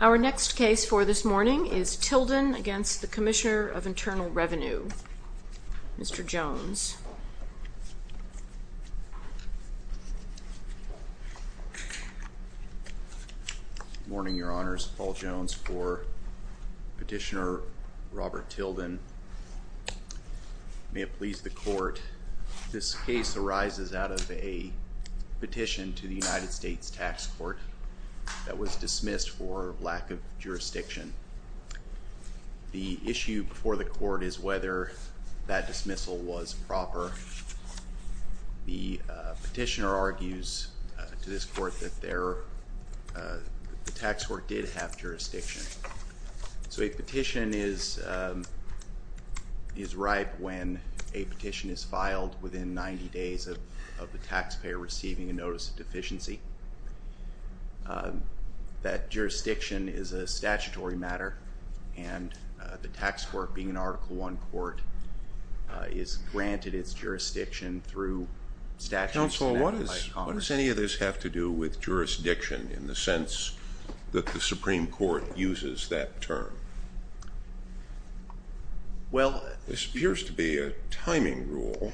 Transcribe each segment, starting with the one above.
Our next case for this morning is Tilden v. CIR, Mr. Jones. Good morning, Your Honors, Paul Jones for Petitioner Robert Tilden. May it please the Court, this case arises out of a petition to the United States Tax Court that was dismissed for lack of jurisdiction. The issue before the Court is whether that dismissal was proper. The Petitioner argues to this Court that the Tax Court did have jurisdiction. So a petition is ripe when a petition is filed within 90 days of the taxpayer receiving a notice of deficiency. That jurisdiction is a statutory matter, and the Tax Court, being an Article I court, is granted its jurisdiction through statutes. Counsel, what does any of this have to do with jurisdiction in the sense that the Supreme Court uses that term? This appears to be a timing rule,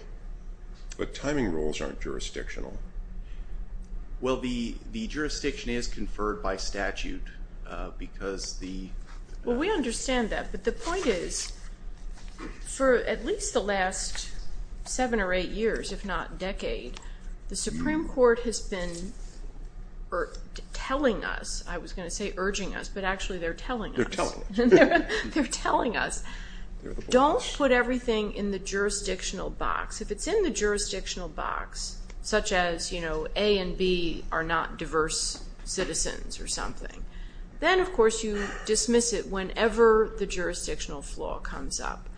but timing rules aren't jurisdictional. Well, the jurisdiction is conferred by statute, because the... We understand that, but the point is, for at least the last seven or eight years, if not decade, the Supreme Court has been telling us, I was going to say urging us, but actually they're telling us. They're telling us. They're telling us. Don't put everything in the jurisdictional box. If it's in the jurisdictional box, such as A and B are not diverse citizens or something, then, of course, you dismiss it whenever the jurisdictional flaw comes up.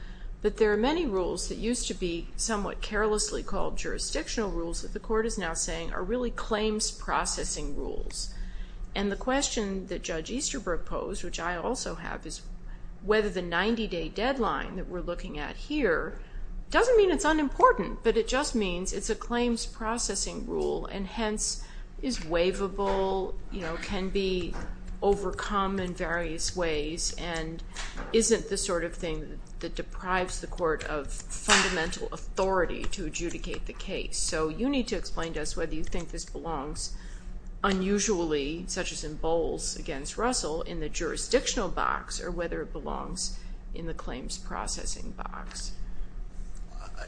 But there are many rules that used to be somewhat carelessly called jurisdictional rules that the Court is now saying are really claims processing rules. And the question that Judge Easterbrook posed, which I also have, is whether the 90-day deadline that we're looking at here doesn't mean it's unimportant, but it just means it's a claims processing rule, and hence is waivable, can be overcome in various ways, and isn't the sort of thing that deprives the Court of fundamental authority to adjudicate the case. So you need to explain to us whether you think this belongs unusually, such as in Bowles against Russell, in the jurisdictional box, or whether it belongs in the claims processing box.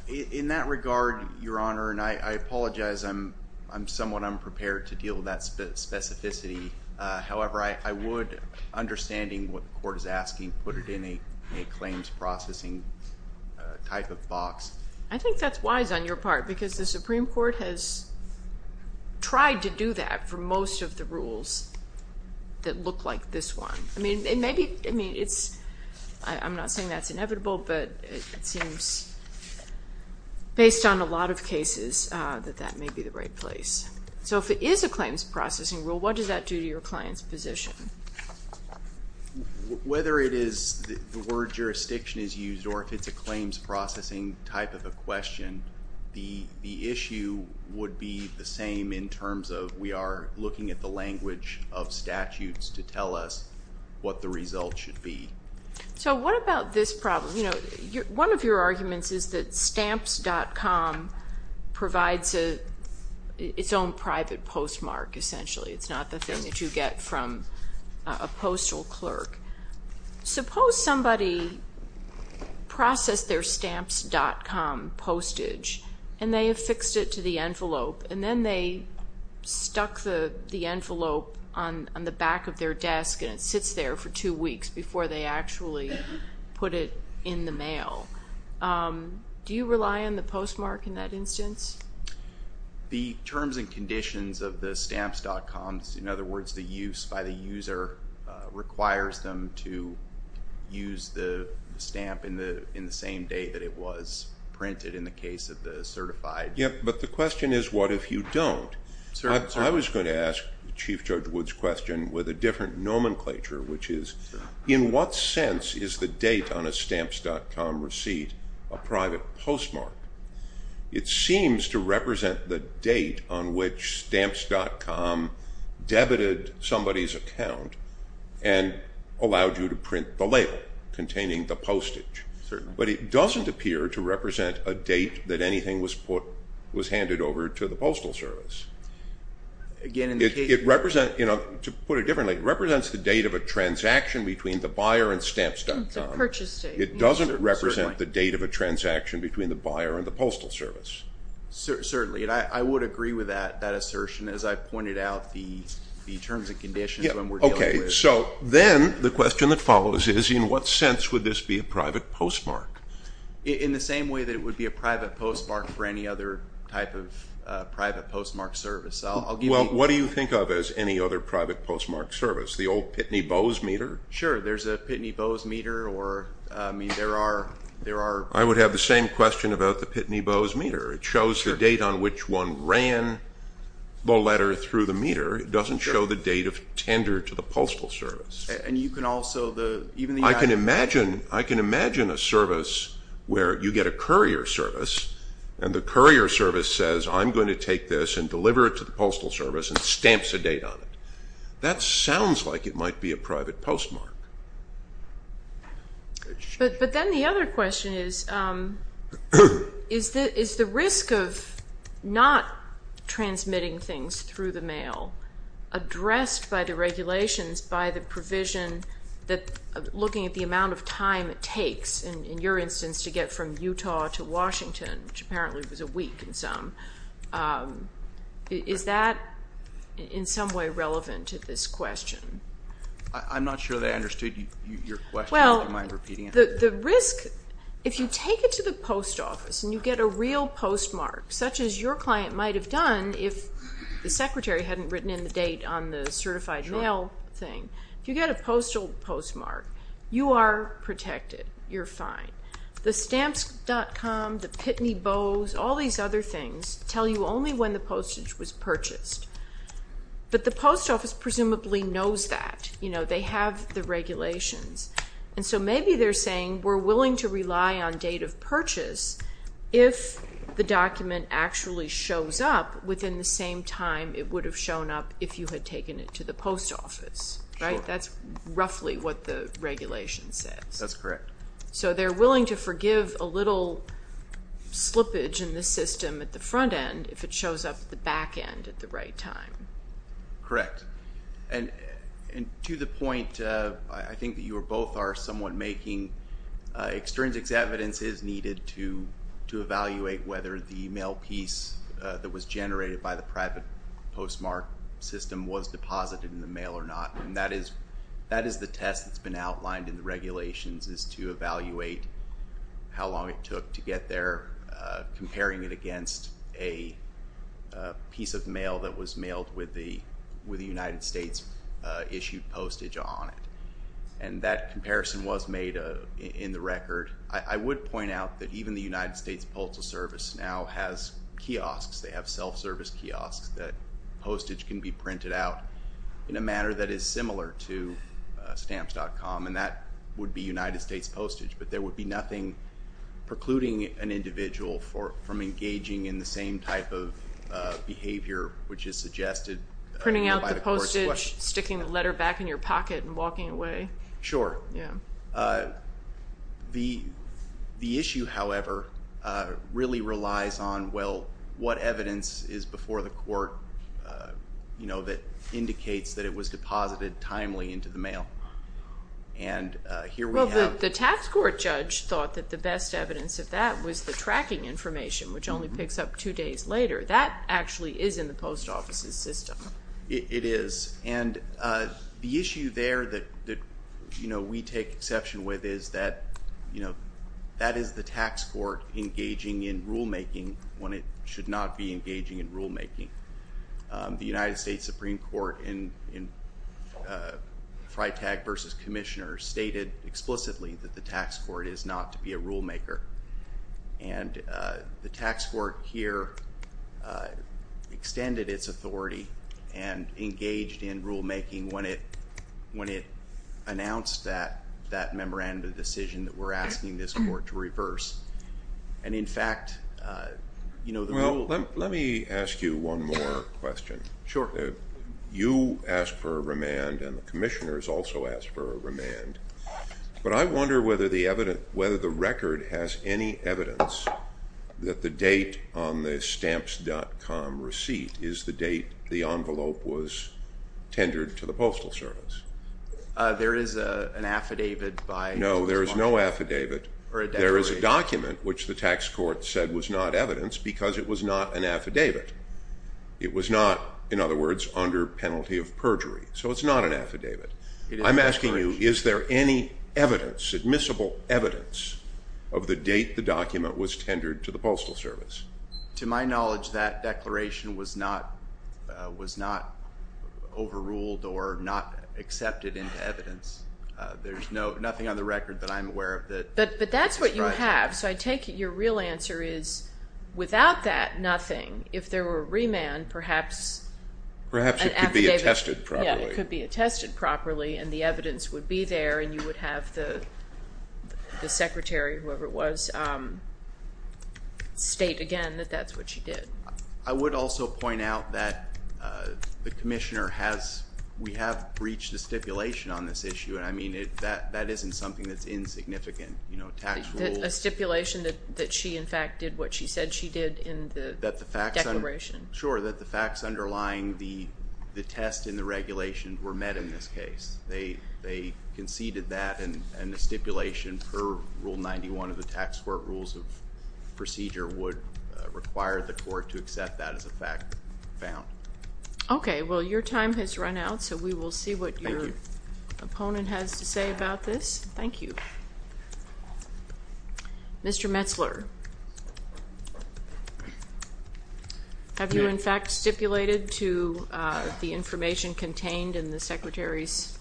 In that regard, Your Honor, and I apologize, I'm somewhat unprepared to deal with that specificity. However, I would, understanding what the Court is asking, put it in a claims processing type of box. I think that's wise on your part, because the Supreme Court has tried to do that for that look like this one. I mean, it may be, I mean, it's, I'm not saying that's inevitable, but it seems, based on a lot of cases, that that may be the right place. So if it is a claims processing rule, what does that do to your client's position? Whether it is the word jurisdiction is used, or if it's a claims processing type of a question, the issue would be the same in terms of we are looking at the language of statutes to tell us what the result should be. So what about this problem? One of your arguments is that stamps.com provides its own private postmark, essentially. It's not the thing that you get from a postal clerk. Suppose somebody processed their stamps.com postage, and they affixed it to the envelope, and then they stuck the envelope on the back of their desk, and it sits there for two weeks before they actually put it in the mail. Do you rely on the postmark in that instance? The terms and conditions of the stamps.com, in other words, the use by the user requires them to use the stamp in the same day that it was printed, in the case of the certified. But the question is, what if you don't? I was going to ask Chief Judge Wood's question with a different nomenclature, which is, in what sense is the date on a stamps.com receipt a private postmark? It seems to represent the date on which stamps.com debited somebody's account and allowed you to print the label containing the postage. But it doesn't appear to represent a date that anything was handed over to the Postal Service. To put it differently, it represents the date of a transaction between the buyer and stamps.com. It's a purchase date. It doesn't represent the date of a transaction between the buyer and the Postal Service. Certainly. And I would agree with that assertion, as I pointed out the terms and conditions when we're dealing with. Okay. So then the question that follows is, in what sense would this be a private postmark? In the same way that it would be a private postmark for any other type of private postmark service. Well, what do you think of as any other private postmark service? The old Pitney Bowes meter? Sure. There's a Pitney Bowes meter or, I mean, there are... I would have the same question about the Pitney Bowes meter. It shows the date on which one ran the letter through the meter. It doesn't show the date of tender to the Postal Service. And you can also, even the... I can imagine a service where you get a courier service and the courier service says, I'm going to take this and deliver it to the Postal Service and stamps a date on it. That sounds like it might be a private postmark. But then the other question is, is the risk of not transmitting things through the mail addressed by the regulations, by the provision that looking at the amount of time it takes, in your instance, to get from Utah to Washington, which apparently was a week in some, is that in some way relevant to this question? I'm not sure that I understood your question. Do you mind repeating it? The risk, if you take it to the post office and you get a real postmark, such as your client might have done if the secretary hadn't written in the date on the certified mail thing, if you get a postal postmark, you are protected. You're fine. The stamps.com, the Pitney Bowes, all these other things tell you only when the postage was purchased. But the post office presumably knows that. They have the regulations. And so maybe they're saying we're willing to rely on date of purchase if the document actually shows up within the same time it would have shown up if you had taken it to the post office, right? That's roughly what the regulation says. That's correct. So they're willing to forgive a little slippage in the system at the front end if it shows up at the back end at the right time. Correct. And to the point, I think that you both are somewhat making, extrinsic evidence is needed to evaluate whether the mail piece that was generated by the private postmark system was deposited in the mail or not. And that is the test that's been outlined in the regulations, is to evaluate how long it took to get there, comparing it against a piece of mail that was mailed with the United States issued postage on it. And that comparison was made in the record. I would point out that even the United States Postal Service now has kiosks. They have self-service kiosks that postage can be printed out in a manner that is similar to stamps.com, and that would be United States postage. But there would be nothing precluding an individual from engaging in the same type of behavior which is suggested by the court's question. Printing out the postage, sticking the letter back in your pocket, and walking away. Sure. Yeah. The issue, however, really relies on, well, what evidence is before the court that indicates that it was deposited timely into the mail? And here we have- But the tax court judge thought that the best evidence of that was the tracking information, which only picks up two days later. That actually is in the post office's system. It is. And the issue there that we take exception with is that that is the tax court engaging in rulemaking when it should not be engaging in rulemaking. The United States Supreme Court in Freitag versus Commissioners stated explicitly that the tax court is not to be a rulemaker, and the tax court here extended its authority and engaged in rulemaking when it announced that memorandum of decision that we're asking this court to reverse. And in fact, you know, the rule- Let me ask you one more question. Sure. You asked for a remand, and the Commissioners also asked for a remand, but I wonder whether the record has any evidence that the date on the stamps.com receipt is the date the envelope was tendered to the Postal Service. There is an affidavit by- No, there is no affidavit. There is a document which the tax court said was not evidence because it was not an affidavit. It was not, in other words, under penalty of perjury, so it's not an affidavit. I'm asking you, is there any evidence, admissible evidence, of the date the document was tendered to the Postal Service? To my knowledge, that declaration was not overruled or not accepted into evidence. There's nothing on the record that I'm aware of that- That's right. But that's what you have, so I take it your real answer is, without that, nothing. If there were a remand, perhaps an affidavit- Perhaps it could be attested properly. Yeah, it could be attested properly, and the evidence would be there, and you would have the Secretary, whoever it was, state again that that's what she did. I would also point out that the Commissioner has, we have breached the stipulation on this tax rules- A stipulation that she, in fact, did what she said she did in the declaration. Sure, that the facts underlying the test in the regulation were met in this case. They conceded that, and the stipulation per Rule 91 of the Tax Court Rules of Procedure would require the court to accept that as a fact found. Okay, well, your time has run out, so we will see what your opponent has to say about this. Thank you. Mr. Metzler, have you, in fact, stipulated to the information contained in the Secretary's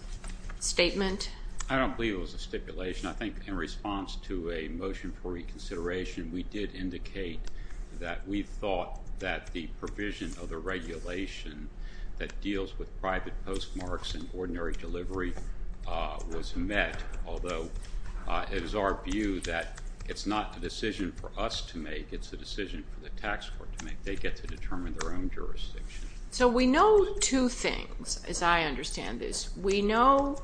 statement? I don't believe it was a stipulation. I think in response to a motion for reconsideration, we did indicate that we thought that the provision of the regulation that deals with private postmarks and ordinary delivery was met, although it is our view that it's not a decision for us to make, it's a decision for the tax court to make. They get to determine their own jurisdiction. So we know two things, as I understand this. We know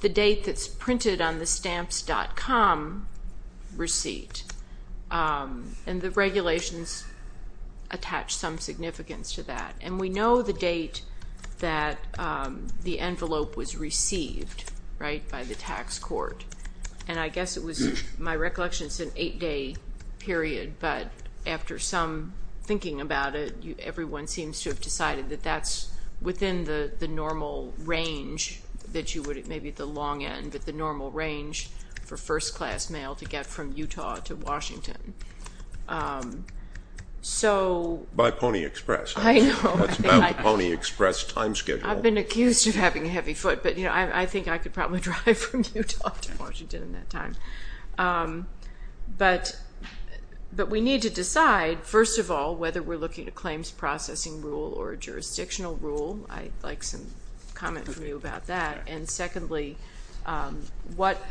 the date that's printed on the stamps.com receipt, and the regulations attach some significance. And we know the date that the envelope was received, right, by the tax court. And I guess it was, my recollection, it's an eight-day period, but after some thinking about it, everyone seems to have decided that that's within the normal range that you would have, maybe the long end, but the normal range for first-class mail to get from Utah to Washington. So By Pony Express. I know. That's about the Pony Express time schedule. I've been accused of having a heavy foot, but you know, I think I could probably drive from Utah to Washington in that time. But we need to decide, first of all, whether we're looking at claims processing rule or a jurisdictional rule. I'd like some comment from you about that. And secondly, what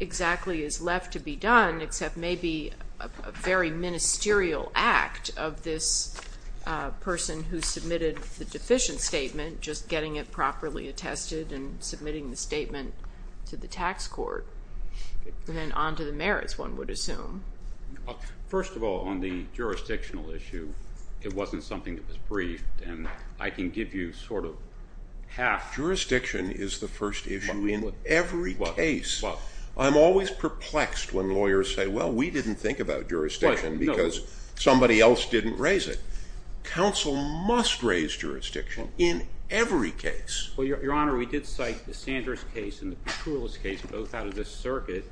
exactly is left to be done, except maybe a very ministerial act of this person who submitted the deficient statement, just getting it properly attested and submitting the statement to the tax court, and then on to the merits, one would assume. First of all, on the jurisdictional issue, it wasn't something that was briefed, and I can give you sort of half. Jurisdiction is the first issue in every case. I'm always perplexed when lawyers say, well, we didn't think about jurisdiction because somebody else didn't raise it. Counsel must raise jurisdiction in every case. Well, Your Honor, we did cite the Sanders case and the Petroulas case, both out of this circuit,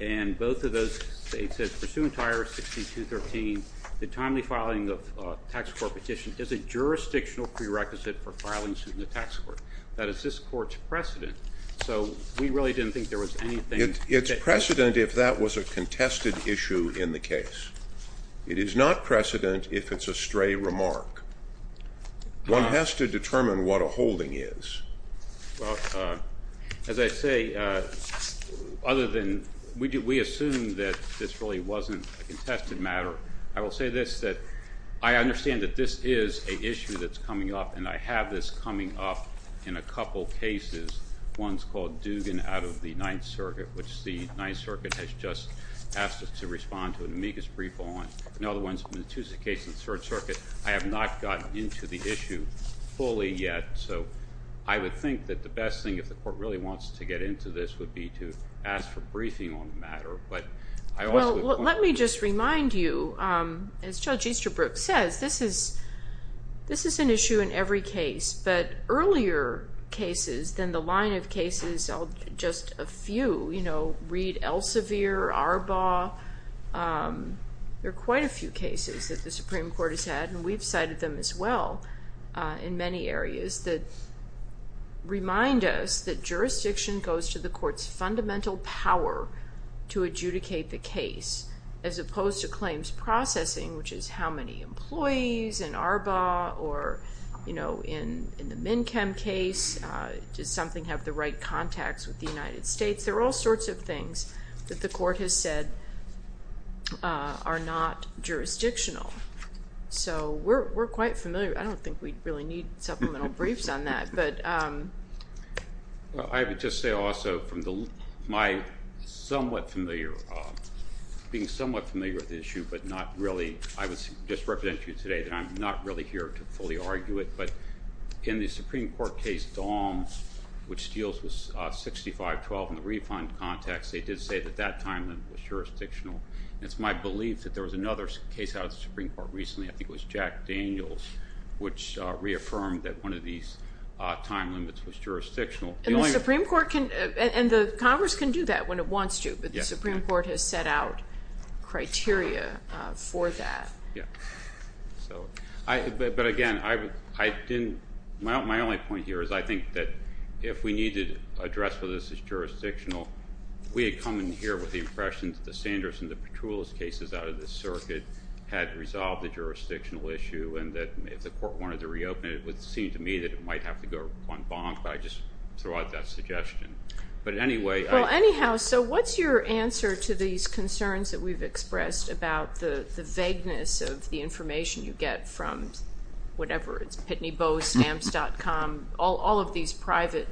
and both of those states said, pursuant to IRS 6213, the timely filing of a tax court petition is a jurisdictional prerequisite for filing suit in the tax court. That is this court's precedent. So we really didn't think there was anything. It's precedent if that was a contested issue in the case. It is not precedent if it's a stray remark. One has to determine what a holding is. Well, as I say, other than we assume that this really wasn't a contested matter, I will say this, that I understand that this is an issue that's coming up, and I have this coming up in a couple cases, one's called Dugan out of the Ninth Circuit, which the Ninth Circuit has just asked us to respond to an amicus brief on. In other words, in the Tuesday case in the Third Circuit, I have not gotten into the issue fully yet. So I would think that the best thing, if the court really wants to get into this, would be to ask for briefing on the matter, but I also would point out that— Well, let me just remind you, as Judge Easterbrook says, this is an issue in every case, but earlier cases, then the line of cases, just a few, you know, Reed-Elsevier, Arbaugh, there are quite a few cases that the Supreme Court has had, and we've cited them as well in many areas that remind us that jurisdiction goes to the court's fundamental power to adjudicate the case, as opposed to claims processing, which is how many employees in Arbaugh or in the MnChem case, does something have the right contacts with the United States? There are all sorts of things that the court has said are not jurisdictional. So we're quite familiar. I don't think we really need supplemental briefs on that, but— I would just say also, from my somewhat familiar, being somewhat familiar with the issue, but not really—I would just represent you today that I'm not really here to fully argue it, but in the Supreme Court case, Dahms, which deals with 65-12 in the refund context, they did say that that time limit was jurisdictional, and it's my belief that there was another case out of the Supreme Court recently, I think it was Jack Daniels, which reaffirmed that one of these time limits was jurisdictional. And the Supreme Court can—and the Congress can do that when it wants to, but the Supreme Court can't do that for that. But again, I didn't—my only point here is I think that if we need to address whether this is jurisdictional, we had come in here with the impression that the Sanders and Petroulas cases out of this circuit had resolved the jurisdictional issue, and that if the court wanted to reopen it, it would seem to me that it might have to go on bonk, but I just throw out that suggestion. But anyway— Well, anyhow, so what's your answer to these concerns that we've expressed about the vagueness of the information you get from whatever, it's Pitney Bowe, Stamps.com, all of these private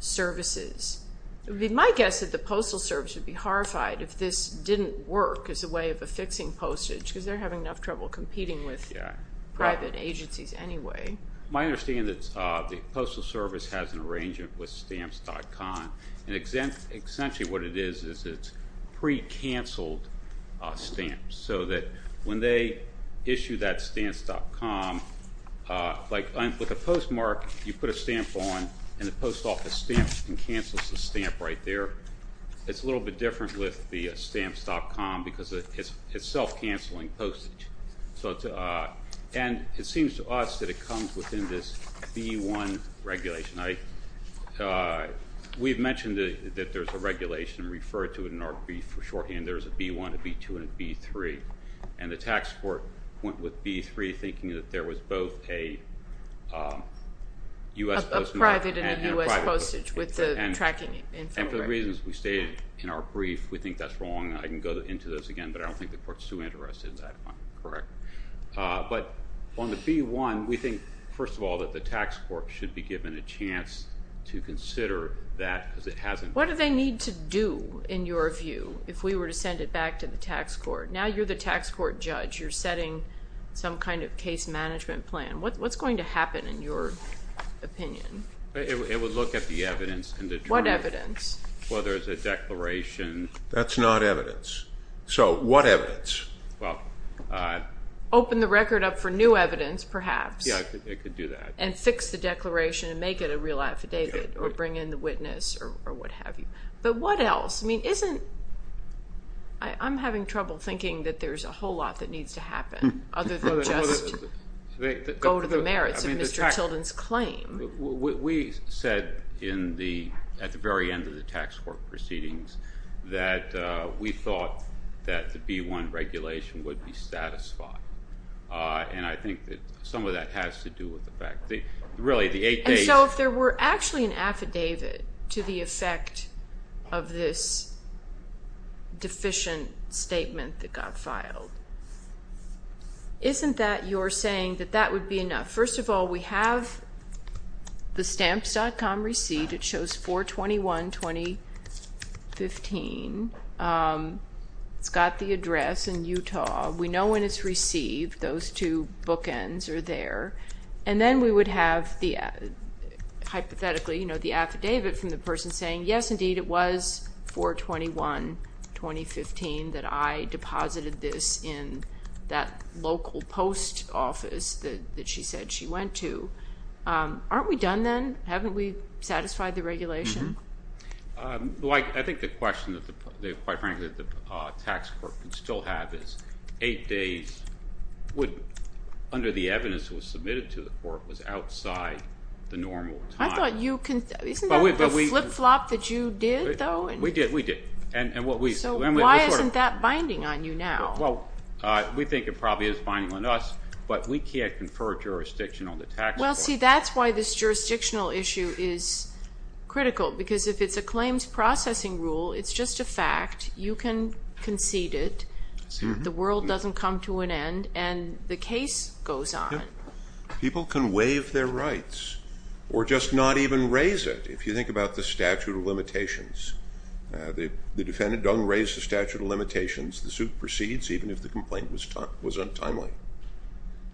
services? My guess is that the Postal Service would be horrified if this didn't work as a way of affixing postage, because they're having enough trouble competing with private agencies anyway. My understanding is that the Postal Service has an arrangement with Stamps.com, and essentially what it is is it's pre-canceled stamps, so that when they issue that Stamps.com, like with a postmark, you put a stamp on, and the post office stamps and cancels the stamp right there. It's a little bit different with the Stamps.com, because it's self-canceling postage. And it seems to us that it comes within this B-1 regulation. We've mentioned that there's a regulation, referred to in our brief for shorthand, there's a B-1, a B-2, and a B-3, and the tax court went with B-3, thinking that there was both a U.S. postmark and a private postage, and for the reasons we stated in our brief, we think that's wrong. I can go into those again, but I don't think the court's too interested in that one, correct? But on the B-1, we think, first of all, that the tax court should be given a chance to consider that, because it hasn't been. What do they need to do, in your view, if we were to send it back to the tax court? Now you're the tax court judge. You're setting some kind of case management plan. What's going to happen, in your opinion? It would look at the evidence and determine— What evidence? Whether it's a declaration. That's not evidence. So what evidence? Open the record up for new evidence, perhaps. Yeah, it could do that. And fix the declaration, and make it a real affidavit, or bring in the witness, or what have you. But what else? I mean, isn't—I'm having trouble thinking that there's a whole lot that needs to happen other than just go to the merits of Mr. Tilden's claim. We said, at the very end of the tax court proceedings, that we thought that the B-1 regulation would be satisfied. And I think that some of that has to do with the fact that, really, the eight days— And so if there were actually an affidavit to the effect of this deficient statement that got filed, isn't that your saying that that would be enough? First of all, we have the stamps.com receipt. It shows 4-21-2015. It's got the address in Utah. We know when it's received. Those two bookends are there. And then we would have, hypothetically, the affidavit from the person saying, yes, indeed, it was 4-21-2015 that I deposited this in that local post office that she said she went to. Aren't we done then? Haven't we satisfied the regulation? I think the question, quite frankly, that the tax court could still have is, eight days would, under the evidence that was submitted to the court, was outside the normal time. I thought you—isn't that the flip-flop that you did, though? We did. We did. And what we— So why isn't that binding on you now? Well, we think it probably is binding on us, but we can't confer jurisdiction on the tax court. Well, see, that's why this jurisdictional issue is critical, because if it's a claims processing rule, it's just a fact. You can concede it. The world doesn't come to an end, and the case goes on. People can waive their rights or just not even raise it. If you think about the statute of limitations, the defendant doesn't raise the statute of limitations. The suit proceeds even if the complaint was untimely.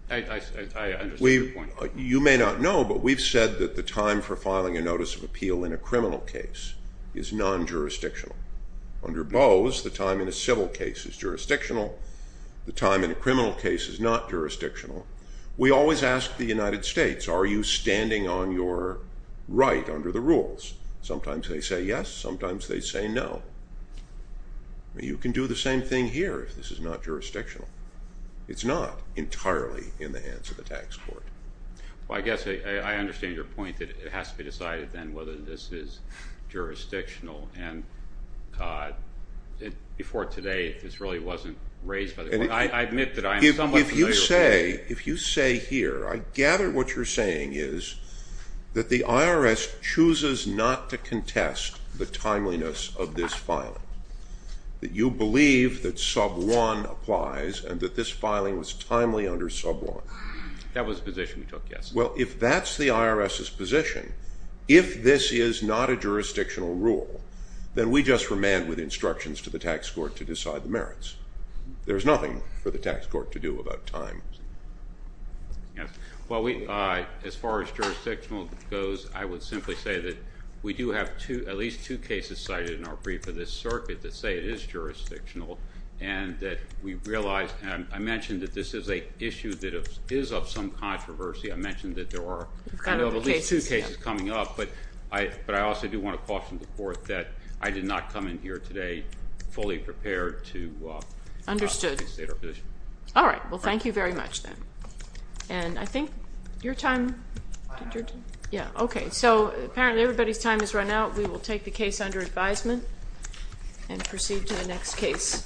I understand your point. You may not know, but we've said that the time for filing a notice of appeal in a criminal case is non-jurisdictional. Under Bose, the time in a civil case is jurisdictional. The time in a criminal case is not jurisdictional. We always ask the United States, are you standing on your right under the rules? Sometimes they say yes, sometimes they say no. You can do the same thing here if this is not jurisdictional. It's not entirely in the hands of the tax court. Well, I guess I understand your point that it has to be decided then whether this is jurisdictional, and before today, this really wasn't raised by the court. I admit that I am somewhat familiar with that. If you say here, I gather what you're saying is that the IRS chooses not to contest the timeliness of this filing, that you believe that sub one applies and that this filing was timely under sub one. That was the position we took, yes. Well, if that's the IRS's position, if this is not a jurisdictional rule, then we just remand with instructions to the tax court to decide the merits. There's nothing for the tax court to do about time. Yes. Well, as far as jurisdictional goes, I would simply say that we do have at least two cases cited in our brief for this circuit that say it is jurisdictional, and that we realize, and I mentioned that this is a issue that is of some controversy. I mentioned that there are at least two cases coming up, but I also do want to caution the Understood. All right. Well, thank you very much then. And I think your time, yeah, okay. So apparently everybody's time has run out. We will take the case under advisement and proceed to the next case.